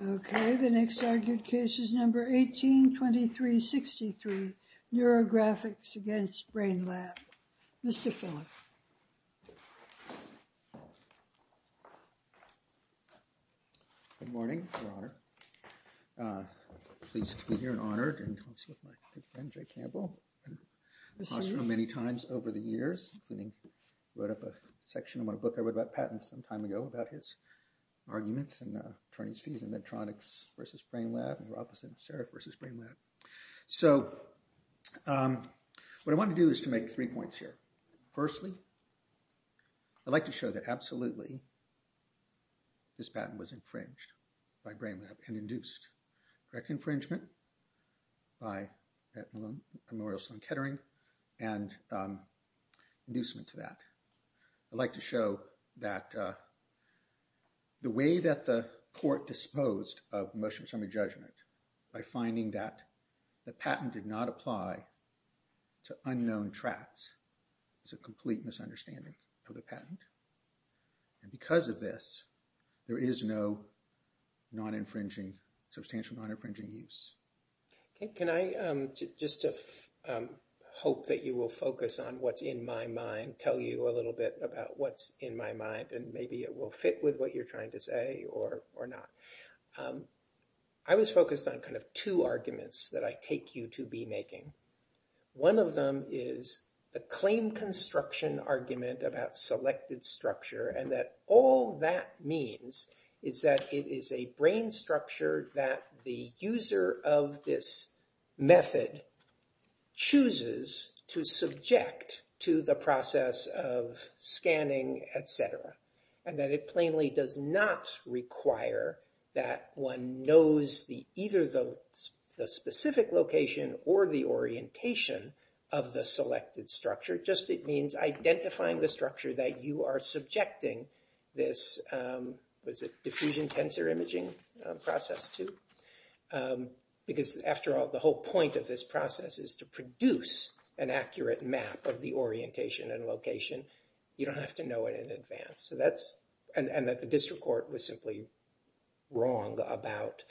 Okay, the next argued case is number 182363, Neurographics Against Brain Lab. Mr. Philip. Good morning, Your Honor. I'm pleased to be here and honored and close with my good friend, Mr. J. Campbell. I've talked to him many times over the years, including wrote up a section on a book I wrote about patents some time ago about his arguments and attorney's fees in Medtronix versus Brain Lab, Neurographics and Serif versus Brain Lab. So what I want to do is to make three points here. Firstly, I'd like to show that absolutely this patent was infringed by Brain Lab and Memorial Sloan Kettering and inducement to that. I'd like to show that the way that the court disposed of motions from a judgment by finding that the patent did not apply to unknown tracks is a complete misunderstanding of the patent. And because of this, there is no non-infringing, substantial non-infringing use. Can I just hope that you will focus on what's in my mind, tell you a little bit about what's in my mind and maybe it will fit with what you're trying to say or not. I was focused on kind of two arguments that I take you to be making. One of them is a claim construction argument about selected structure and that all that means is that it is a brain structure that the user of this method chooses to subject to the process of scanning, etc. And that it plainly does not require that one knows either the specific location or the orientation of the selected structure. It just means identifying the structure that you are subjecting this diffusion tensor imaging process to. Because after all, the whole point of this process is to produce an accurate map of the orientation and location. You don't have to know it in advance. And that the district court was simply wrong about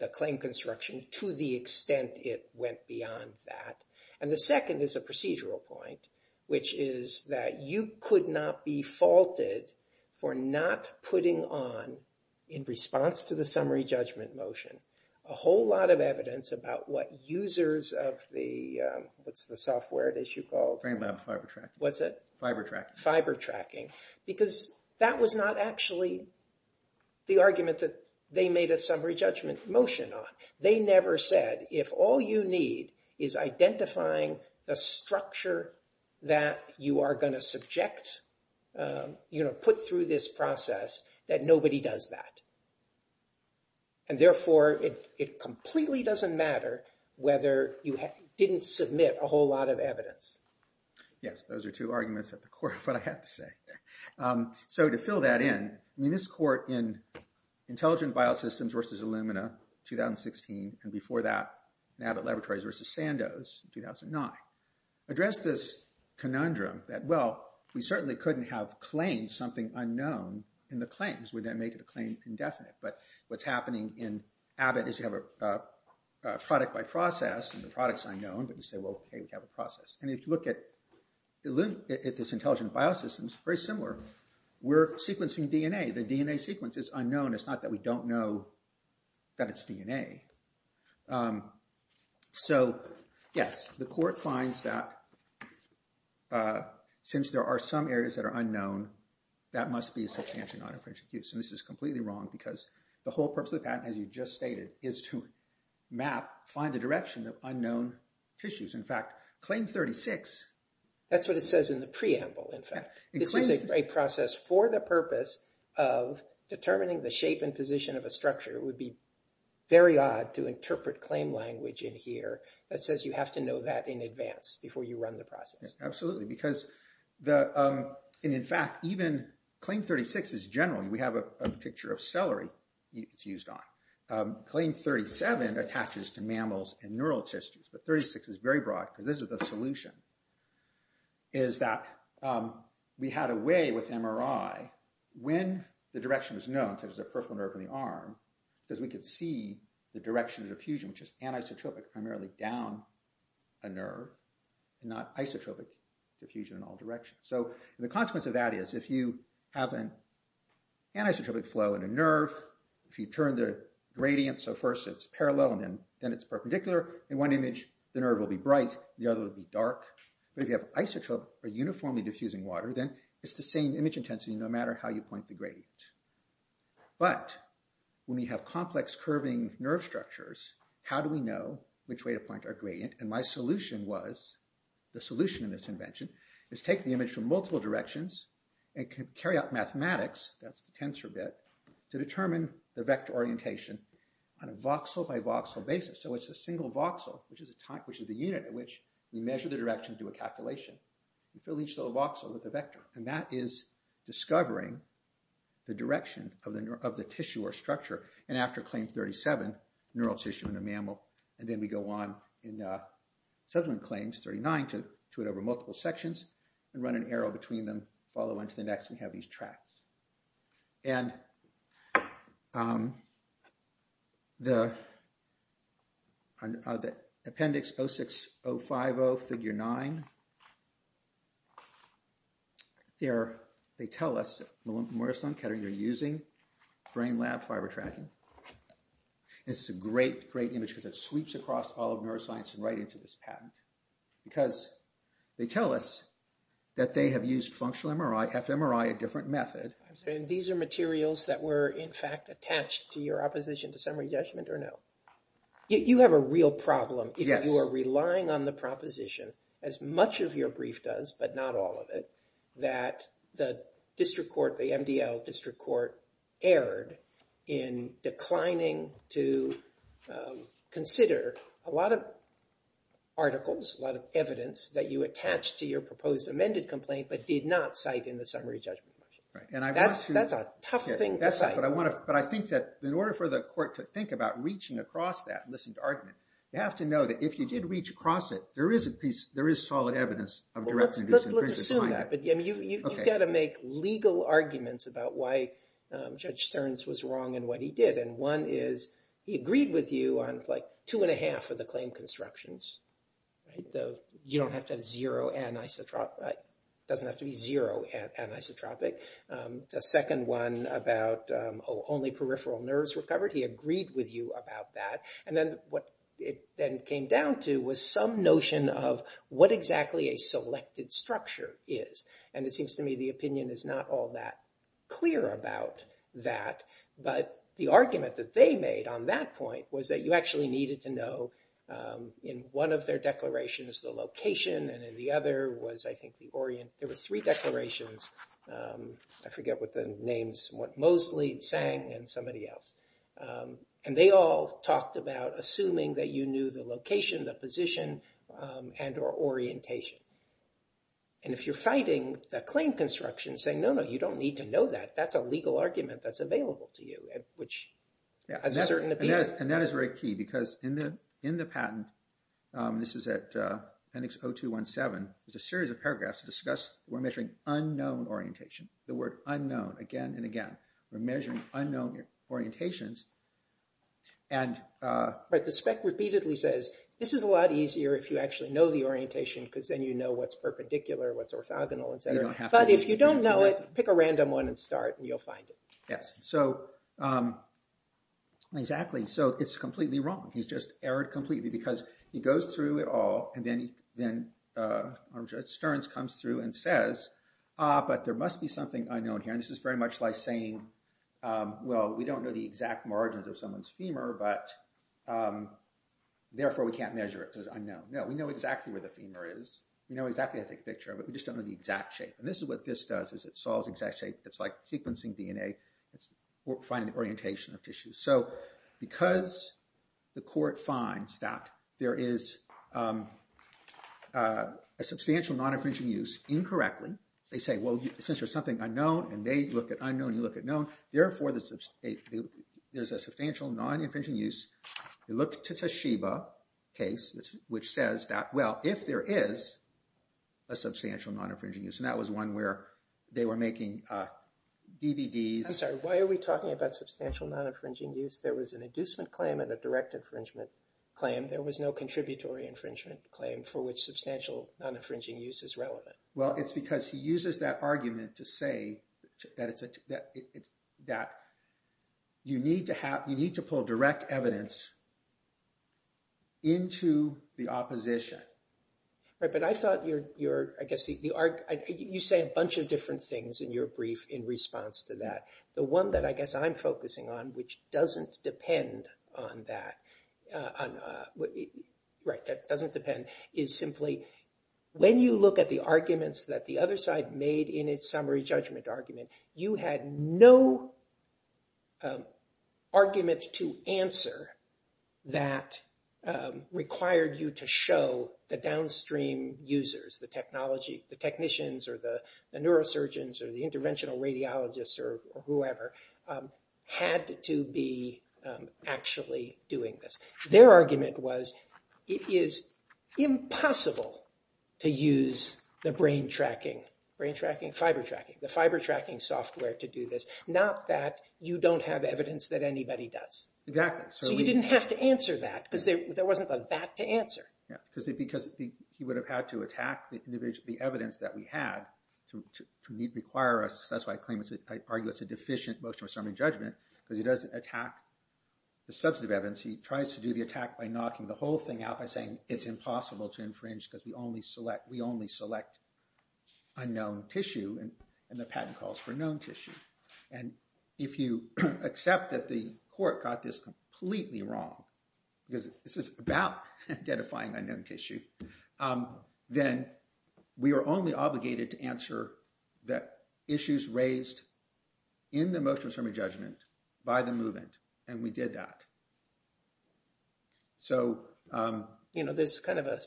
the claim construction to the extent it went beyond that. And the second is a procedural point, which is that you could not be faulted for not putting on in response to the summary judgment motion a whole lot of evidence about what users of the, what's the software that you called? Brain lab fiber tracking. What's it? Fiber tracking. Fiber tracking. Because that was not actually the argument that they made a summary judgment motion on. They never said if all you need is identifying the structure that you are going to subject, you know, put through this process, that nobody does that. And therefore, it completely doesn't matter whether you didn't submit a whole lot of evidence. Yes, those are two arguments at the core of what I have to say. So to fill that in, I mean, this court in Intelligent Biosystems versus Illumina, 2016, and before that, Abbott Laboratories versus Sandoz, 2009, addressed this conundrum that, well, we certainly couldn't have claimed something unknown in the claims. Would that make it a claim indefinite? But what's happening in Abbott is you have a product by process, and the product's unknown, but you say, well, hey, we have a process. And if you look at this Intelligent Biosystems, very similar. We're sequencing DNA. The DNA sequence is unknown. It's not that we don't know that it's DNA. So, yes, the court finds that since there are some areas that are unknown, that must be a substantial non-inferential use. And this is completely wrong because the whole purpose of the patent, as you just stated, is to map, find the direction of unknown tissues. In fact, Claim 36… That's what it says in the preamble, in fact. This is a process for the purpose of determining the shape and position of a structure. It would be very odd to interpret claim language in here that says you have to know that in advance before you run the process. Absolutely, because the – and in fact, even Claim 36 is generally – we have a picture of celery it's used on. Claim 37 attaches to mammals and neural tissues, but 36 is very broad because this is the solution, is that we had a way with MRI. When the direction is known to the peripheral nerve in the arm, because we could see the direction of diffusion, which is anisotropic, primarily down a nerve, not isotropic diffusion in all directions. So the consequence of that is if you have an anisotropic flow in a nerve, if you turn the gradient so first it's parallel and then it's perpendicular, in one image the nerve will be bright, the other will be dark. But if you have isotropic or uniformly diffusing water, then it's the same image intensity no matter how you point the gradient. But when we have complex curving nerve structures, how do we know which way to point our gradient? And my solution was, the solution in this invention, is take the image from multiple directions and carry out mathematics, that's the tensor bit, to determine the vector orientation on a voxel-by-voxel basis. So it's a single voxel, which is the unit at which we measure the direction and do a calculation. We fill each little voxel with a vector, and that is discovering the direction of the tissue or structure. And after claim 37, neural tissue in a mammal, and then we go on in subsequent claims, 39, to it over multiple sections, and run an arrow between them, follow on to the next and have these tracks. And the appendix 06-050, figure 9, they tell us, Maristan Kettering, you're using brain-lab fiber tracking. It's a great, great image because it sweeps across all of neuroscience and right into this patent. Because they tell us that they have used functional MRI, fMRI, a different method. And these are materials that were, in fact, attached to your opposition to summary judgment or no? You have a real problem if you are relying on the proposition, as much of your brief does but not all of it, that the district court, the MDL district court, erred in declining to consider a lot of articles, a lot of evidence, that you attached to your proposed amended complaint but did not cite in the summary judgment. That's a tough thing to cite. But I think that in order for the court to think about reaching across that and listen to argument, you have to know that if you did reach across it, there is solid evidence of direct negligence. Let's assume that. But you've got to make legal arguments about why Judge Stearns was wrong in what he did. And one is he agreed with you on like two and a half of the claim constructions. You don't have to have zero anisotropic. It doesn't have to be zero anisotropic. The second one about only peripheral nerves recovered, he agreed with you about that. And then what it then came down to was some notion of what exactly a selected structure is. And it seems to me the opinion is not all that clear about that. But the argument that they made on that point was that you actually needed to know in one of their declarations the location and in the other was, I think, the orient. There were three declarations. I forget what the names were. Mosley, Tseng, and somebody else. And they all talked about assuming that you knew the location, the position, and or orientation. And if you're fighting the claim construction, saying, no, no, you don't need to know that. That's a legal argument that's available to you, which is a certain opinion. And that is very key because in the patent, this is at appendix 0217, there's a series of paragraphs to discuss. We're measuring unknown orientation, the word unknown again and again. We're measuring unknown orientations. But the spec repeatedly says, this is a lot easier if you actually know the orientation because then you know what's perpendicular, what's orthogonal, etc. But if you don't know it, pick a random one and start and you'll find it. Yes, exactly. So it's completely wrong. He's just errored completely because he goes through it all. And then Sterns comes through and says, ah, but there must be something unknown here. And this is very much like saying, well, we don't know the exact margins of someone's femur, but therefore we can't measure it because it's unknown. No, we know exactly where the femur is. We know exactly how to take a picture of it. We just don't know the exact shape. And this is what this does is it solves exact shape. It's finding the orientation of tissue. So because the court finds that there is a substantial non-infringing use incorrectly, they say, well, since there's something unknown and they look at unknown, you look at known, therefore there's a substantial non-infringing use. They look to Toshiba case, which says that, well, if there is a substantial non-infringing use, and that was one where they were making DVDs. I'm sorry, why are we talking about substantial non-infringing use? There was an inducement claim and a direct infringement claim. There was no contributory infringement claim for which substantial non-infringing use is relevant. Well, it's because he uses that argument to say that you need to pull direct evidence into the opposition. But I thought you're, I guess, you say a bunch of different things in your brief in response to that. The one that I guess I'm focusing on, which doesn't depend on that, right, that doesn't depend, is simply when you look at the arguments that the other side made in its summary judgment argument, you had no argument to answer that required you to show the downstream users, the technicians or the neurosurgeons or the interventional radiologists or whoever, had to be actually doing this. Their argument was it is impossible to use the brain tracking, brain tracking, fiber tracking, the fiber tracking software to do this, not that you don't have evidence that anybody does. Exactly. So you didn't have to answer that because there wasn't a that to answer. Yeah, because he would have had to attack the evidence that we had to require us. That's why I claim it's, I argue it's a deficient motion of summary judgment because he doesn't attack the substantive evidence. He tries to do the attack by knocking the whole thing out by saying it's impossible to infringe because we only select unknown tissue and the patent calls for known tissue. And if you accept that the court got this completely wrong, because this is about identifying unknown tissue, then we are only obligated to answer the issues raised in the motion of summary judgment by the movement. And we did that. So, you know, there's kind of a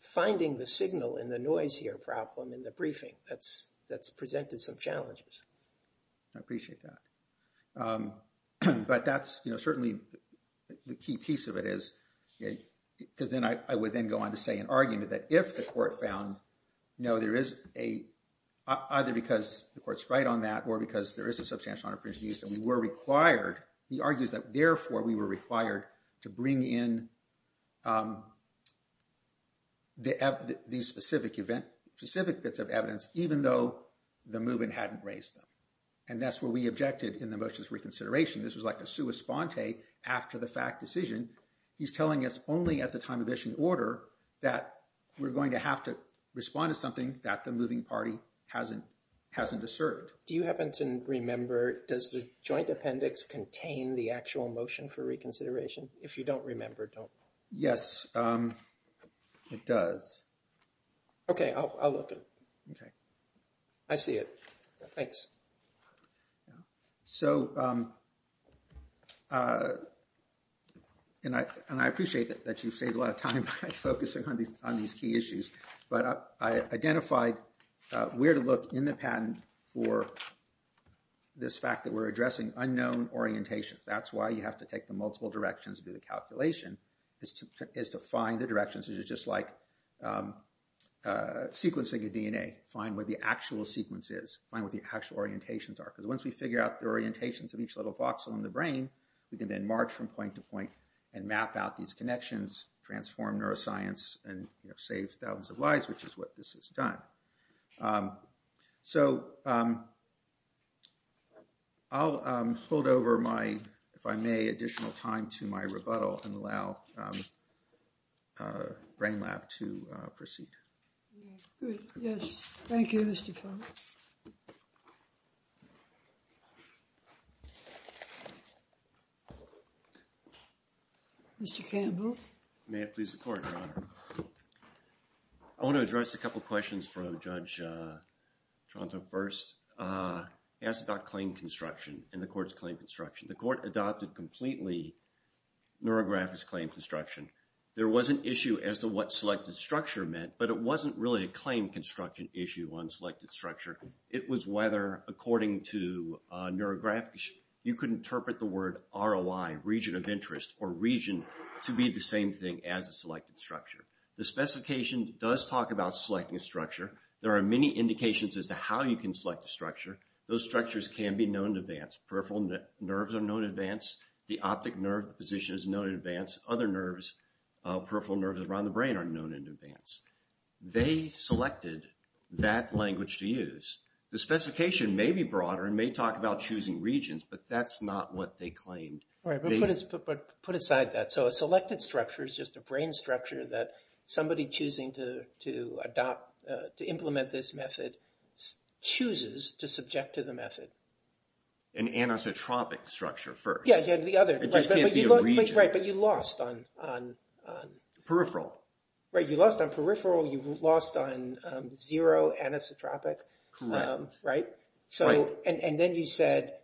finding the signal in the noise here problem in the briefing that's that's presented some challenges. I appreciate that. But that's, you know, certainly the key piece of it is, because then I would then go on to say an argument that if the court found, you know, there is a either because the court's right on that or because there is a substantial opportunity that we were required. He argues that therefore we were required to bring in the specific event specific bits of evidence, even though the movement hadn't raised them. And that's where we objected in the motions reconsideration. This was like a sua sponte after the fact decision. He's telling us only at the time of issue in order that we're going to have to respond to something that the moving party hasn't hasn't asserted. Do you happen to remember, does the joint appendix contain the actual motion for reconsideration. If you don't remember don't. Yes, it does. Okay, I'll look at. Okay, I see it. Thanks. So, And I, and I appreciate that that you save a lot of time focusing on these on these key issues, but I identified where to look in the patent for this fact that we're addressing unknown orientations. That's why you have to take the multiple directions do the calculation is to is to find the directions is just like sequencing a DNA, find where the actual sequences, find what the actual orientations are because once we figure out the orientations of each little voxel in the brain, we can then march from point to point and map out these connections transform neuroscience and save thousands of lives, which is what this is done. So, I'll hold over my, if I may additional time to my rebuttal and allow brain lab to proceed. Yes, thank you. Mr Campbell, may I please support. I want to address a couple questions from Judge Toronto first asked about claim construction in the courts claim construction the court adopted completely. Neurographics claim construction. There was an issue as to what selected structure meant but it wasn't really a claim construction issue on selected structure. It was whether according to neurographics, you could interpret the word ROI region of interest or region to be the same thing as a selected structure. The specification does talk about selecting a structure. There are many indications as to how you can select the structure. Those structures can be known advanced peripheral nerves are known advanced. The optic nerve position is known in advance other nerves peripheral nerves around the brain are known in advance. They selected that language to use the specification may be broader and may talk about choosing regions, but that's not what they claimed. Put aside that so a selected structure is just a brain structure that somebody choosing to adopt to implement this method chooses to subject to the method. Anisotropic structure first. Yeah, the other region, right, but you lost on peripheral, right? You lost on peripheral. You've lost on zero anisotropic, right? So and then you said.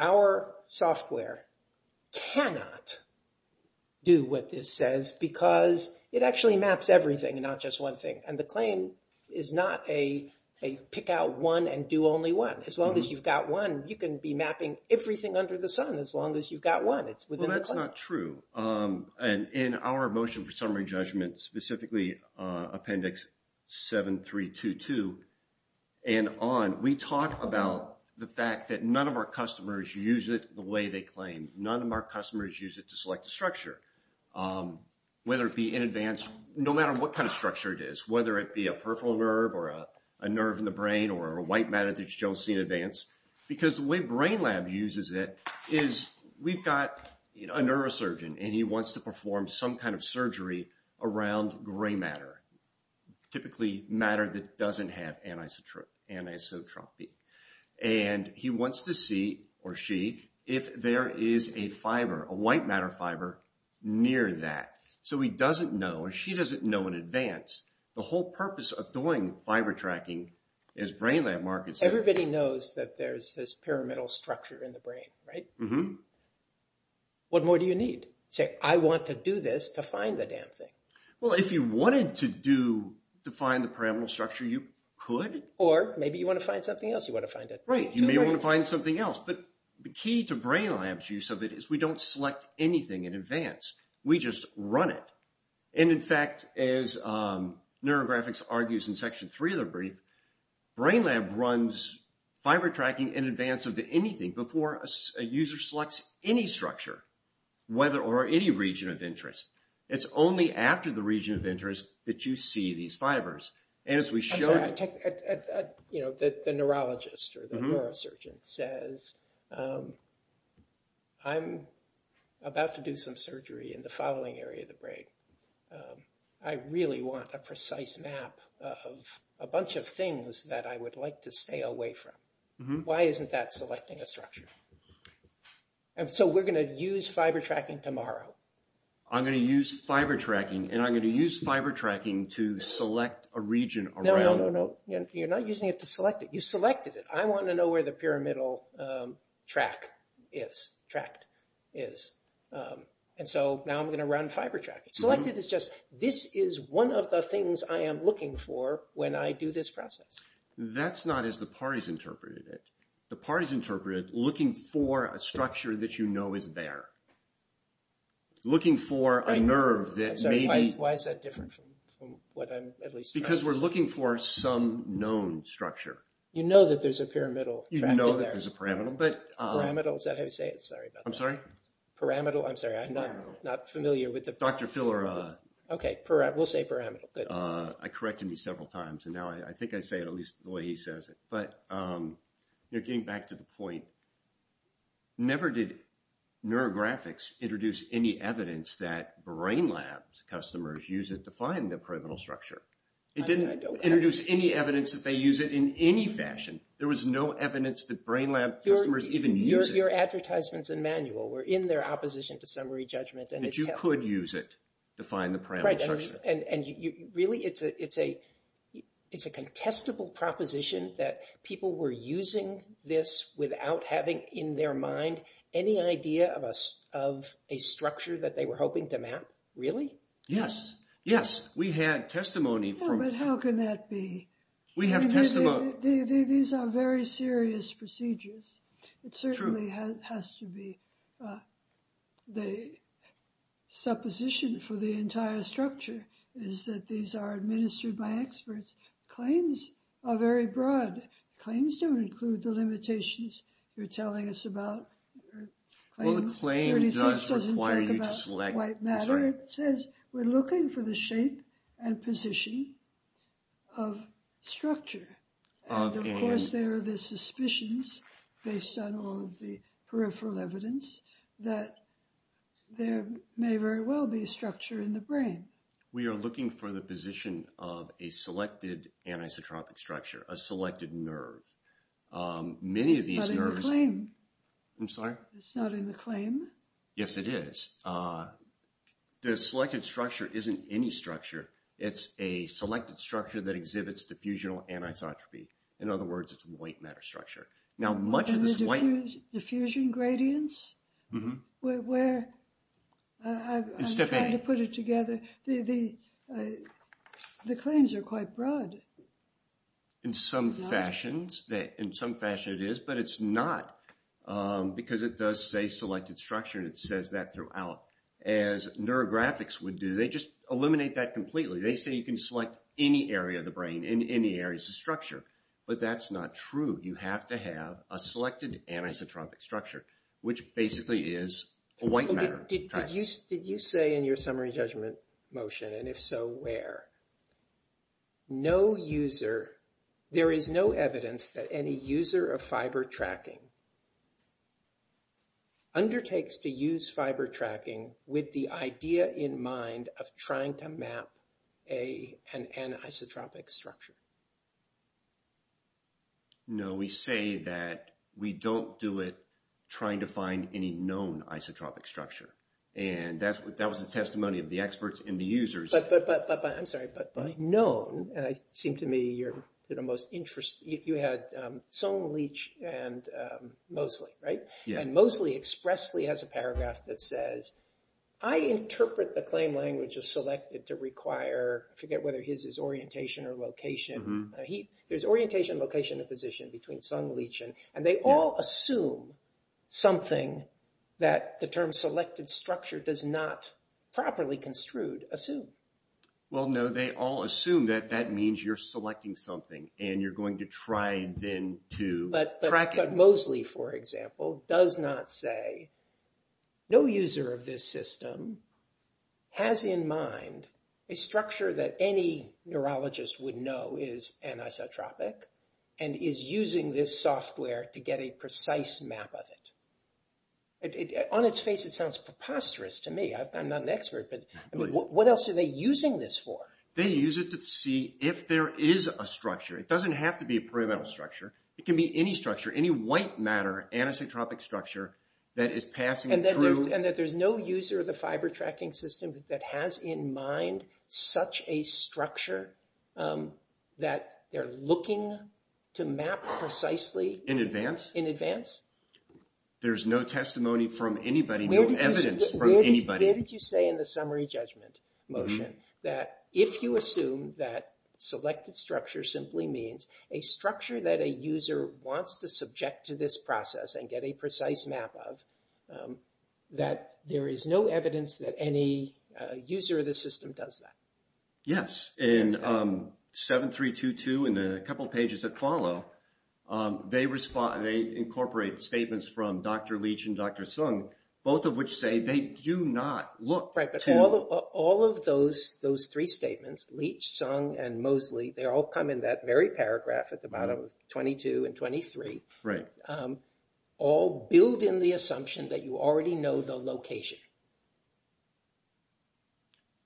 Our software cannot do what this says because it actually maps everything and not just one thing. And the claim is not a pick out one and do only one. As long as you've got one, you can be mapping everything under the sun as long as you've got one. Well, that's not true. And in our motion for summary judgment, specifically appendix 7322. And on we talk about the fact that none of our customers use it the way they claim. None of our customers use it to select the structure, whether it be in advance, no matter what kind of structure it is, whether it be a peripheral nerve or a nerve in the brain or a white matter that you don't see in advance. Because the way Brain Lab uses it is we've got a neurosurgeon and he wants to perform some kind of surgery around gray matter, typically matter that doesn't have anisotropy. And he wants to see or she if there is a fiber, a white matter fiber near that. So he doesn't know and she doesn't know in advance the whole purpose of doing fiber tracking is Brain Lab markets. Everybody knows that there's this pyramidal structure in the brain, right? What more do you need? Say, I want to do this to find the damn thing. Well, if you wanted to do to find the pyramidal structure, you could. Or maybe you want to find something else. You want to find it. Right. You may want to find something else. But the key to Brain Lab's use of it is we don't select anything in advance. We just run it. And in fact, as neurographics argues in Section 3 of the brief, Brain Lab runs fiber tracking in advance of anything before a user selects any structure, whether or any region of interest. It's only after the region of interest that you see these fibers. The neurologist or the neurosurgeon says, I'm about to do some surgery in the following area of the brain. I really want a precise map of a bunch of things that I would like to stay away from. Why isn't that selecting a structure? And so we're going to use fiber tracking tomorrow. I'm going to use fiber tracking, and I'm going to use fiber tracking to select a region around it. No, no, no, no. You're not using it to select it. You selected it. I want to know where the pyramidal tract is. And so now I'm going to run fiber tracking. Selected is just, this is one of the things I am looking for when I do this process. That's not as the parties interpreted it. The parties interpreted it looking for a structure that you know is there. Looking for a nerve that maybe... I'm sorry, why is that different from what I'm at least... Because we're looking for some known structure. You know that there's a pyramidal tract in there. You know that there's a pyramidal, but... Pyramidal, is that how you say it? Sorry about that. I'm sorry? Pyramidal, I'm sorry, I'm not familiar with the... Dr. Phil, or... Okay, we'll say pyramidal, good. I corrected me several times, and now I think I say it at least the way he says it. But you're getting back to the point. Never did neurographics introduce any evidence that brain labs customers use it to find the pyramidal structure. It didn't introduce any evidence that they use it in any fashion. There was no evidence that brain lab customers even use it. Your advertisements and manual were in their opposition to summary judgment. That you could use it to find the pyramidal structure. And really, it's a contestable proposition that people were using this without having in their mind any idea of a structure that they were hoping to map. Really? Yes, yes. We had testimony from... No, but how can that be? We have testimony... These are very serious procedures. True. It really has to be the supposition for the entire structure is that these are administered by experts. Claims are very broad. Claims don't include the limitations you're telling us about. Well, the claim does require you to select... 36 doesn't talk about white matter. It says we're looking for the shape and position of structure. And of course, there are the suspicions based on all of the peripheral evidence that there may very well be a structure in the brain. We are looking for the position of a selected anisotropic structure, a selected nerve. It's not in the claim. I'm sorry? It's not in the claim. Yes, it is. The selected structure isn't any structure. It's a selected structure that exhibits diffusional anisotropy. In other words, it's white matter structure. Now, much of this white... And the diffusion gradients? Mm-hmm. Where... It's step eight. I'm trying to put it together. The claims are quite broad. In some fashions, it is, but it's not because it does say selected structure and it says that throughout. As neurographics would do, they just eliminate that completely. They say you can select any area of the brain and any areas of structure. But that's not true. You have to have a selected anisotropic structure, which basically is a white matter. Did you say in your summary judgment motion, and if so, where? No user... There is no evidence that any user of fiber tracking undertakes to use fiber tracking with the idea in mind of trying to map an anisotropic structure. No, we say that we don't do it trying to find any known isotropic structure. And that was the testimony of the experts and the users. I'm sorry, but known, and it seemed to me you're the most interested... You had Sung, Leach, and Moseley, right? Yeah. And Moseley expressly has a paragraph that says, I interpret the claim language of selected to require... I forget whether his is orientation or location. Mm-hmm. There's orientation, location, and position between Sung, Leach, and... Well, no, they all assume that that means you're selecting something, and you're going to try then to track it. But Moseley, for example, does not say, no user of this system has in mind a structure that any neurologist would know is anisotropic and is using this software to get a precise map of it. On its face, it sounds preposterous to me. I'm not an expert, but what else are they using this for? They use it to see if there is a structure. It doesn't have to be a perimeter structure. It can be any structure, any white matter anisotropic structure that is passing through... And that there's no user of the fiber tracking system that has in mind such a structure that they're looking to map precisely... In advance? In advance. There's no testimony from anybody, no evidence from anybody. Where did you say in the summary judgment motion that if you assume that selected structure simply means a structure that a user wants to subject to this process and get a precise map of, that there is no evidence that any user of the system does that? Yes. In 7.3.2.2 and a couple of pages that follow, they incorporate statements from Dr. Leach and Dr. Sung, both of which say they do not look to... Right, but all of those three statements, Leach, Sung, and Mosley, they all come in that very paragraph at the bottom, 22 and 23. Right. All build in the assumption that you already know the location.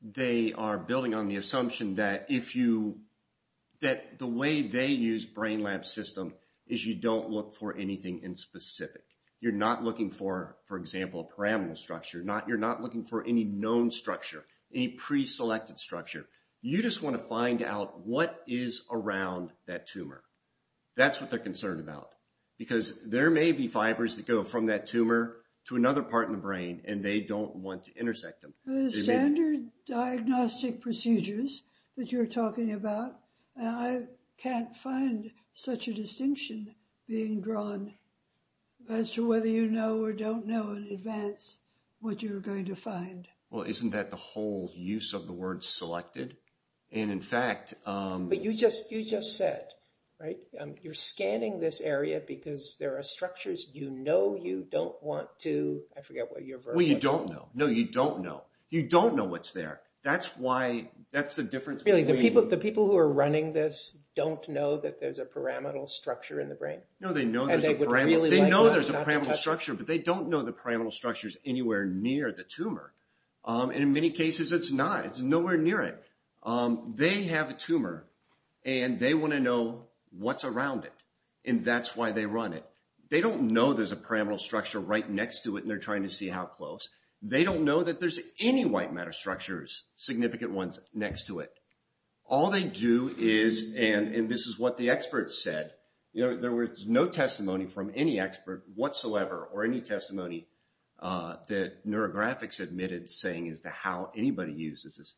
They are building on the assumption that if you... That the way they use brain lab system is you don't look for anything in specific. You're not looking for, for example, a pyramidal structure. You're not looking for any known structure, any pre-selected structure. You just want to find out what is around that tumor. That's what they're concerned about. Because there may be fibers that go from that tumor to another part in the brain and they don't want to intersect them. The standard diagnostic procedures that you're talking about, I can't find such a distinction being drawn as to whether you know or don't know in advance what you're going to find. Well, isn't that the whole use of the word selected? And in fact... But you just said, right? You're scanning this area because there are structures you know you don't want to... Well, you don't know. No, you don't know. You don't know what's there. That's why... That's the difference between... Really, the people who are running this don't know that there's a pyramidal structure in the brain? No, they know there's a pyramidal structure. But they don't know the pyramidal structure is anywhere near the tumor. And in many cases, it's not. It's nowhere near it. They have a tumor and they want to know what's around it. And that's why they run it. They don't know there's a pyramidal structure right next to it and they're trying to see how close. They don't know that there's any white matter structures, significant ones, next to it. All they do is... And this is what the experts said. There was no testimony from any expert whatsoever or any testimony that neurographics admitted saying as to how anybody uses this.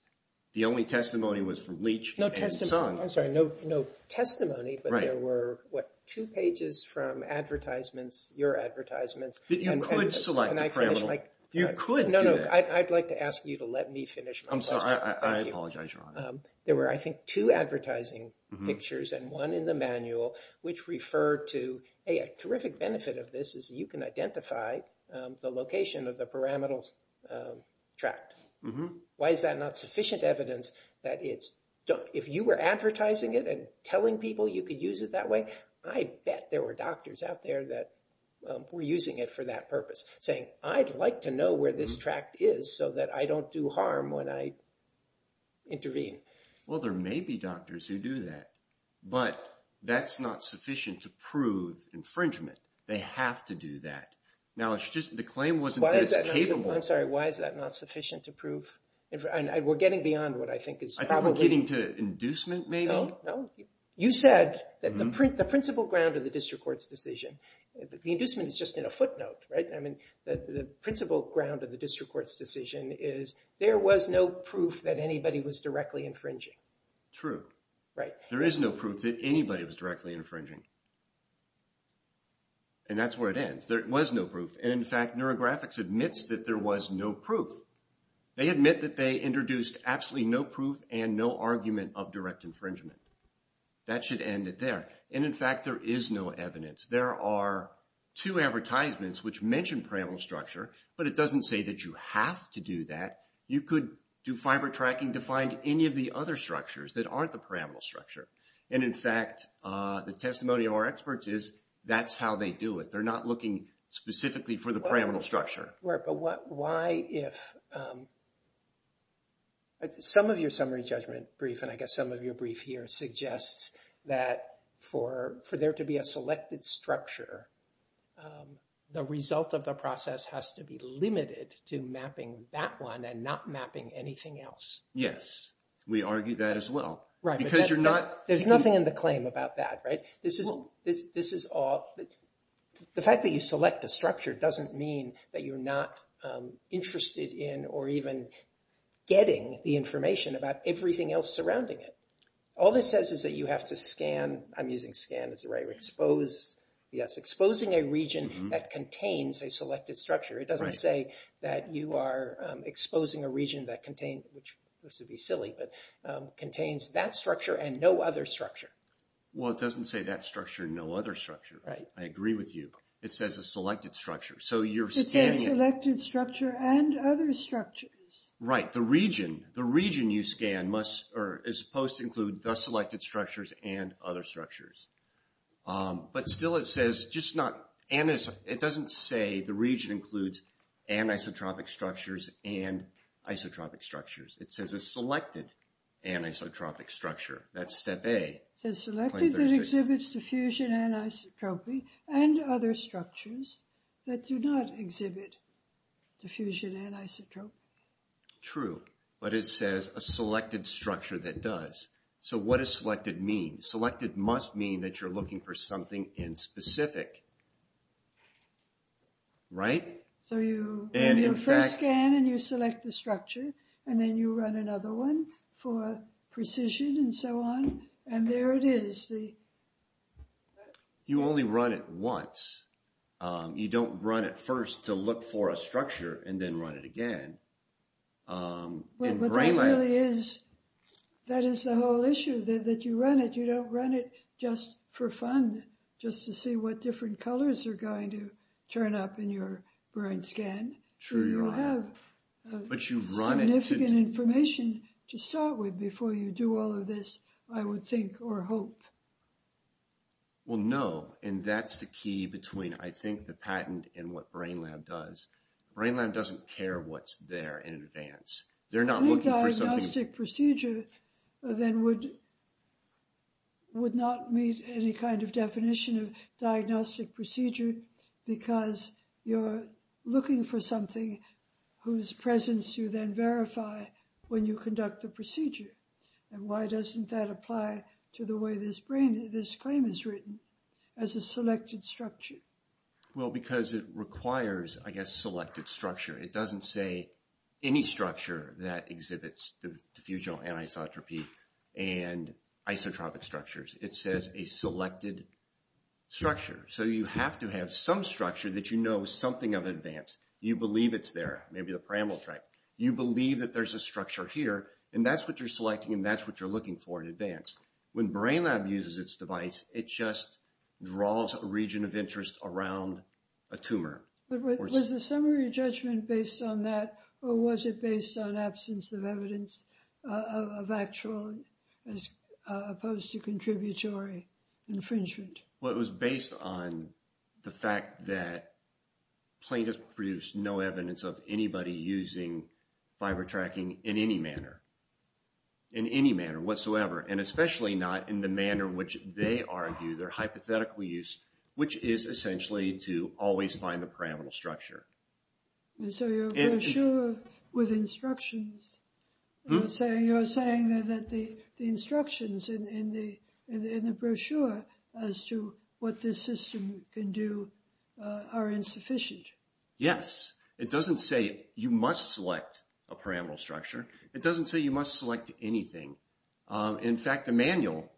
The only testimony was from Leach and Sung. I'm sorry. No testimony. But there were, what, two pages from advertisements, your advertisements. But you could select a pyramidal... You could do that. No, no. I'd like to ask you to let me finish my question. I'm sorry. I apologize, Your Honor. There were, I think, two advertising pictures and one in the manual which referred to a terrific benefit of this is you can identify the location of the pyramidal tract. Why is that not sufficient evidence that it's... If you were advertising it and telling people you could use it that way, I bet there were doctors out there that were using it for that purpose, saying, I'd like to know where this tract is so that I don't do harm when I intervene. Well, there may be doctors who do that, but that's not sufficient to prove infringement. They have to do that. Now, it's just the claim wasn't as capable... I'm sorry. Why is that not sufficient to prove... We're getting beyond what I think is probably... Inducement, maybe? No, no. You said that the principal ground of the district court's decision... The inducement is just in a footnote, right? I mean, the principal ground of the district court's decision is there was no proof that anybody was directly infringing. True. Right. There is no proof that anybody was directly infringing. And that's where it ends. There was no proof. And, in fact, Neurographics admits that there was no proof. They admit that they introduced absolutely no proof and no argument of direct infringement. That should end it there. And, in fact, there is no evidence. There are two advertisements which mention pyramidal structure, but it doesn't say that you have to do that. You could do fiber tracking to find any of the other structures that aren't the pyramidal structure. And, in fact, the testimony of our experts is that's how they do it. They're not looking specifically for the pyramidal structure. Right. But why if... Some of your summary judgment brief, and I guess some of your brief here, suggests that for there to be a selected structure, the result of the process has to be limited to mapping that one and not mapping anything else. Yes. We argue that as well. Right. Because you're not... There's nothing in the claim about that, right? Well... This is all... The fact that you select a structure doesn't mean that you're not interested in or even getting the information about everything else surrounding it. All this says is that you have to scan... I'm using scan as a right word. Expose... Yes, exposing a region that contains a selected structure. It doesn't say that you are exposing a region that contains... This would be silly, but contains that structure and no other structure. Well, it doesn't say that structure and no other structure. Right. I agree with you. It says a selected structure. So you're scanning... It says selected structure and other structures. Right. The region you scan must or is supposed to include the selected structures and other structures. But still it says just not... It doesn't say the region includes anisotropic structures and isotropic structures. It says a selected anisotropic structure. That's step A. It says selected that exhibits diffusion anisotropy and other structures that do not exhibit diffusion anisotropy. True. But it says a selected structure that does. So what does selected mean? Selected must mean that you're looking for something in specific. Right? So you first scan and you select the structure and then you run another one for precision and so on. And there it is. You only run it once. You don't run it first to look for a structure and then run it again. But that really is... That is the whole issue that you run it. You don't run it just for fun, just to see what different colors are going to turn up in your brain scan. Sure, you're right. But you run it to... Significant information to start with before you do all of this, I would think or hope. Well, no. And that's the key between, I think, the patent and what Brain Lab does. Brain Lab doesn't care what's there in advance. They're not looking for something... Any diagnostic procedure then would not meet any kind of definition of diagnostic procedure because you're looking for something whose presence you then verify when you conduct the procedure. And why doesn't that apply to the way this claim is written as a selected structure? Well, because it requires, I guess, selected structure. It doesn't say any structure that exhibits the diffusional anisotropy and isotropic structures. It says a selected structure. So you have to have some structure that you know something of advance. You believe it's there. Maybe the parameter track. You believe that there's a structure here, and that's what you're selecting, and that's what you're looking for in advance. When Brain Lab uses its device, it just draws a region of interest around a tumor. But was the summary judgment based on that, or was it based on absence of evidence of actual, as opposed to contributory infringement? Well, it was based on the fact that plaintiffs produced no evidence of anybody using fiber tracking in any manner, in any manner whatsoever, and especially not in the manner which they argue, their hypothetical use, which is essentially to always find the parameter structure. And so your brochure with instructions, you're saying that the instructions in the brochure as to what this system can do are insufficient. Yes. It doesn't say you must select a parameter structure. It doesn't say you must select anything. In fact, the manual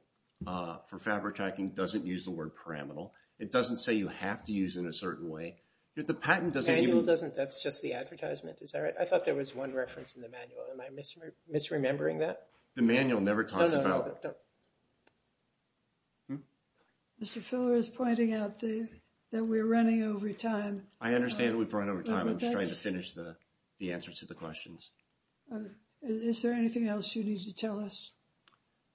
for fiber tracking doesn't use the word parameter. It doesn't say you have to use it in a certain way. The patent doesn't even – The manual doesn't. That's just the advertisement. Is that right? I thought there was one reference in the manual. Am I misremembering that? The manual never talks about – No, no, no. Mr. Filler is pointing out that we're running over time. I understand we've run over time. I'm just trying to finish the answers to the questions. Is there anything else you need to tell us?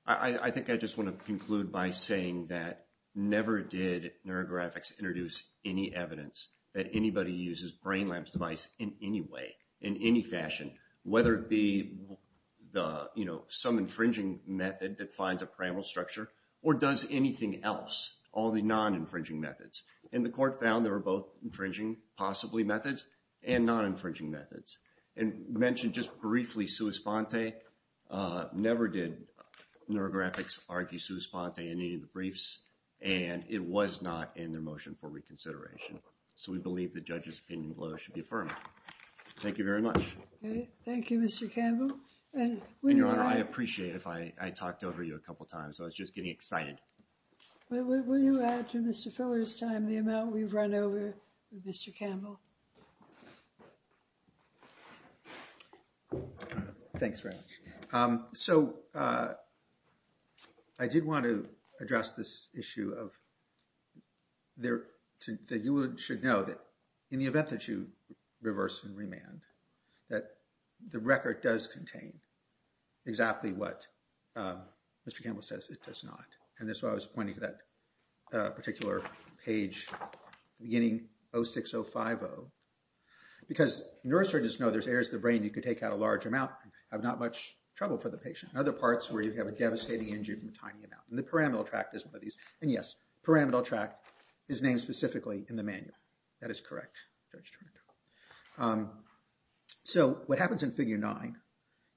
I think I just want to conclude by saying that never did NeuroGraphics introduce any evidence that anybody uses brain lamps device in any way, in any fashion, whether it be some infringing method that finds a parameter structure or does anything else, all the non-infringing methods. And the court found there were both infringing possibly methods and non-infringing methods. And mentioned just briefly, Suus Pante never did NeuroGraphics argue Suus Pante in any of the briefs, and it was not in their motion for reconsideration. So we believe the judge's opinion below should be affirmed. Thank you very much. Thank you, Mr. Campbell. And, Your Honor, I appreciate if I talked over you a couple times. I was just getting excited. Will you add to Mr. Filler's time the amount we've run over, Mr. Campbell? Thanks very much. So I did want to address this issue of – that you should know that in the event that you reverse and remand, that the record does contain exactly what Mr. Campbell says it does not. And that's why I was pointing to that particular page, beginning 06050. Because neurosurgeons know there's errors in the brain. You could take out a large amount and have not much trouble for the patient. In other parts where you have a devastating injury from a tiny amount. And the pyramidal tract is one of these. And, yes, pyramidal tract is named specifically in the manual. That is correct, Judge Turner. So what happens in Figure 9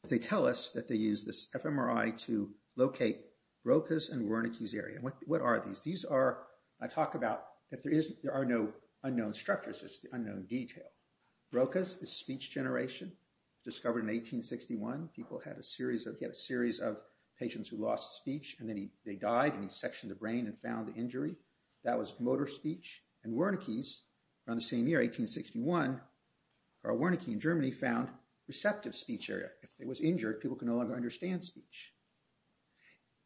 is they tell us that they use this fMRI to locate Broca's and Wernicke's area. What are these? These are – I talk about that there are no unknown structures. It's the unknown detail. Broca's is speech generation, discovered in 1861. People had a series of – he had a series of patients who lost speech. And then they died, and he sectioned the brain and found the injury. That was motor speech. And Wernicke's, around the same year, 1861, Wernicke in Germany found receptive speech area. If it was injured, people could no longer understand speech.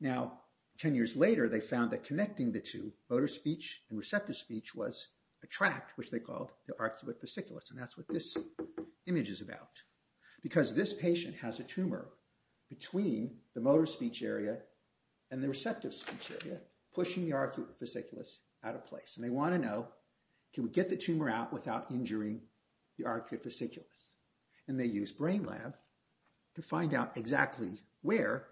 Now, 10 years later, they found that connecting the two, motor speech and receptive speech, was a tract, which they called the arcuate fasciculus. And that's what this image is about. Because this patient has a tumor between the motor speech area and the receptive speech area, pushing the arcuate fasciculus out of place. And they want to know, can we get the tumor out without injuring the arcuate fasciculus? And they use Brain Lab to find out exactly where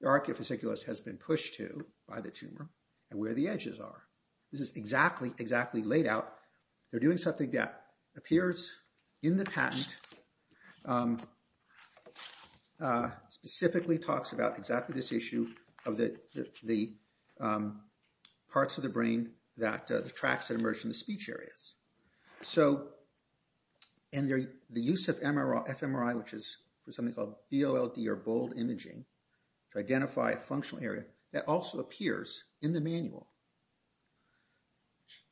the arcuate fasciculus has been pushed to by the tumor, and where the edges are. This is exactly, exactly laid out. They're doing something that appears in the patent, specifically talks about exactly this issue of the parts of the brain, the tracts that emerge from the speech areas. And the use of fMRI, which is something called BOLD, or bold imaging, to identify a functional area, that also appears in the manual.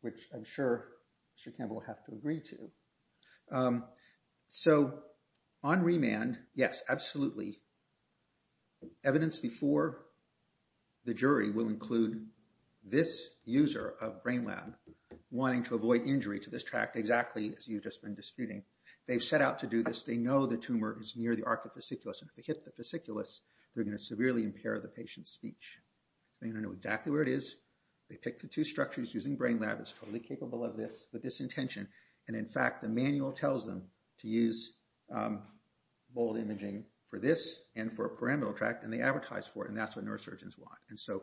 Which I'm sure Mr. Campbell will have to agree to. So, on remand, yes, absolutely, evidence before the jury will include this user of Brain Lab wanting to avoid injury to this tract, exactly as you've just been disputing. They've set out to do this. They know the tumor is near the arcuate fasciculus. And if they hit the fasciculus, they're going to severely impair the patient's speech. They're going to know exactly where it is. They pick the two structures using Brain Lab. It's totally capable of this, with this intention. And in fact, the manual tells them to use BOLD imaging for this, and for a pyramidal tract, and they advertise for it. And that's what neurosurgeons want. And so,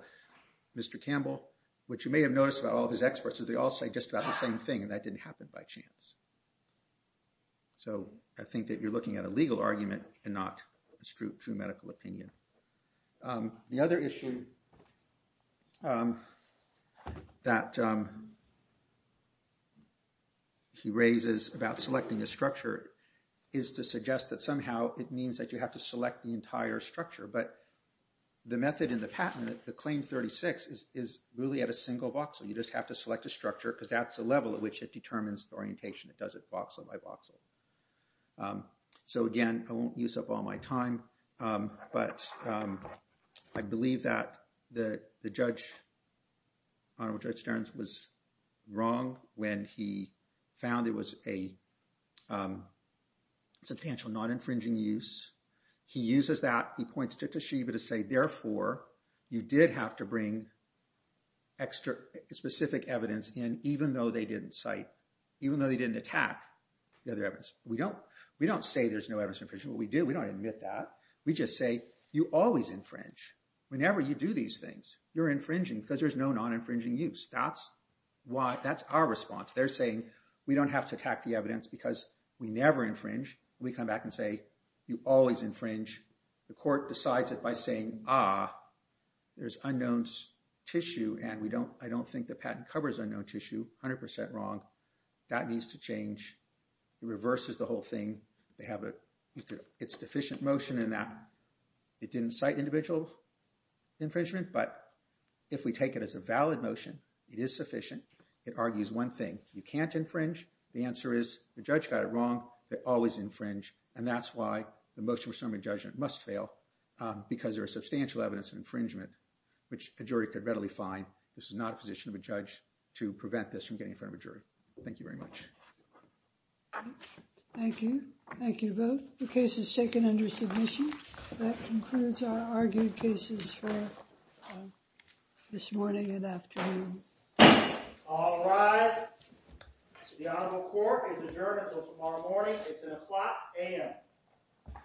Mr. Campbell, what you may have noticed about all of his experts, is they all say just about the same thing, and that didn't happen by chance. So, I think that you're looking at a legal argument, and not a true medical opinion. The other issue that he raises about selecting a structure is to suggest that somehow it means that you have to select the entire structure. But the method in the patent, the Claim 36, is really at a single voxel. You just have to select a structure, because that's the level at which it determines the orientation. It does it voxel by voxel. So, again, I won't use up all my time, but I believe that the judge, Honorable Judge Stearns, was wrong when he found it was a substantial, non-infringing use. He uses that. He points to Toshiba to say, therefore, you did have to bring extra specific evidence in, even though they didn't cite, even though they didn't attack the other evidence. We don't say there's no evidence infringement. We do. We don't admit that. We just say, you always infringe. Whenever you do these things, you're infringing, because there's no non-infringing use. That's our response. They're saying, we don't have to attack the evidence, because we never infringe. We come back and say, you always infringe. The court decides it by saying, ah, there's unknown tissue, and I don't think the patent covers unknown tissue. 100% wrong. That needs to change. It reverses the whole thing. They have a deficient motion in that. It didn't cite individual infringement, but if we take it as a valid motion, it is sufficient. It argues one thing. You can't infringe. The answer is, the judge got it wrong. They always infringe, and that's why the motion for summary judgment must fail, because there is substantial evidence of infringement, which a jury could readily find. This is not a position of a judge to prevent this from getting in front of a jury. Thank you very much. Thank you. Thank you both. The case is taken under submission. That concludes our argued cases for this morning and afternoon. All rise. The Honorable Court is adjourned until tomorrow morning. It's at o'clock a.m.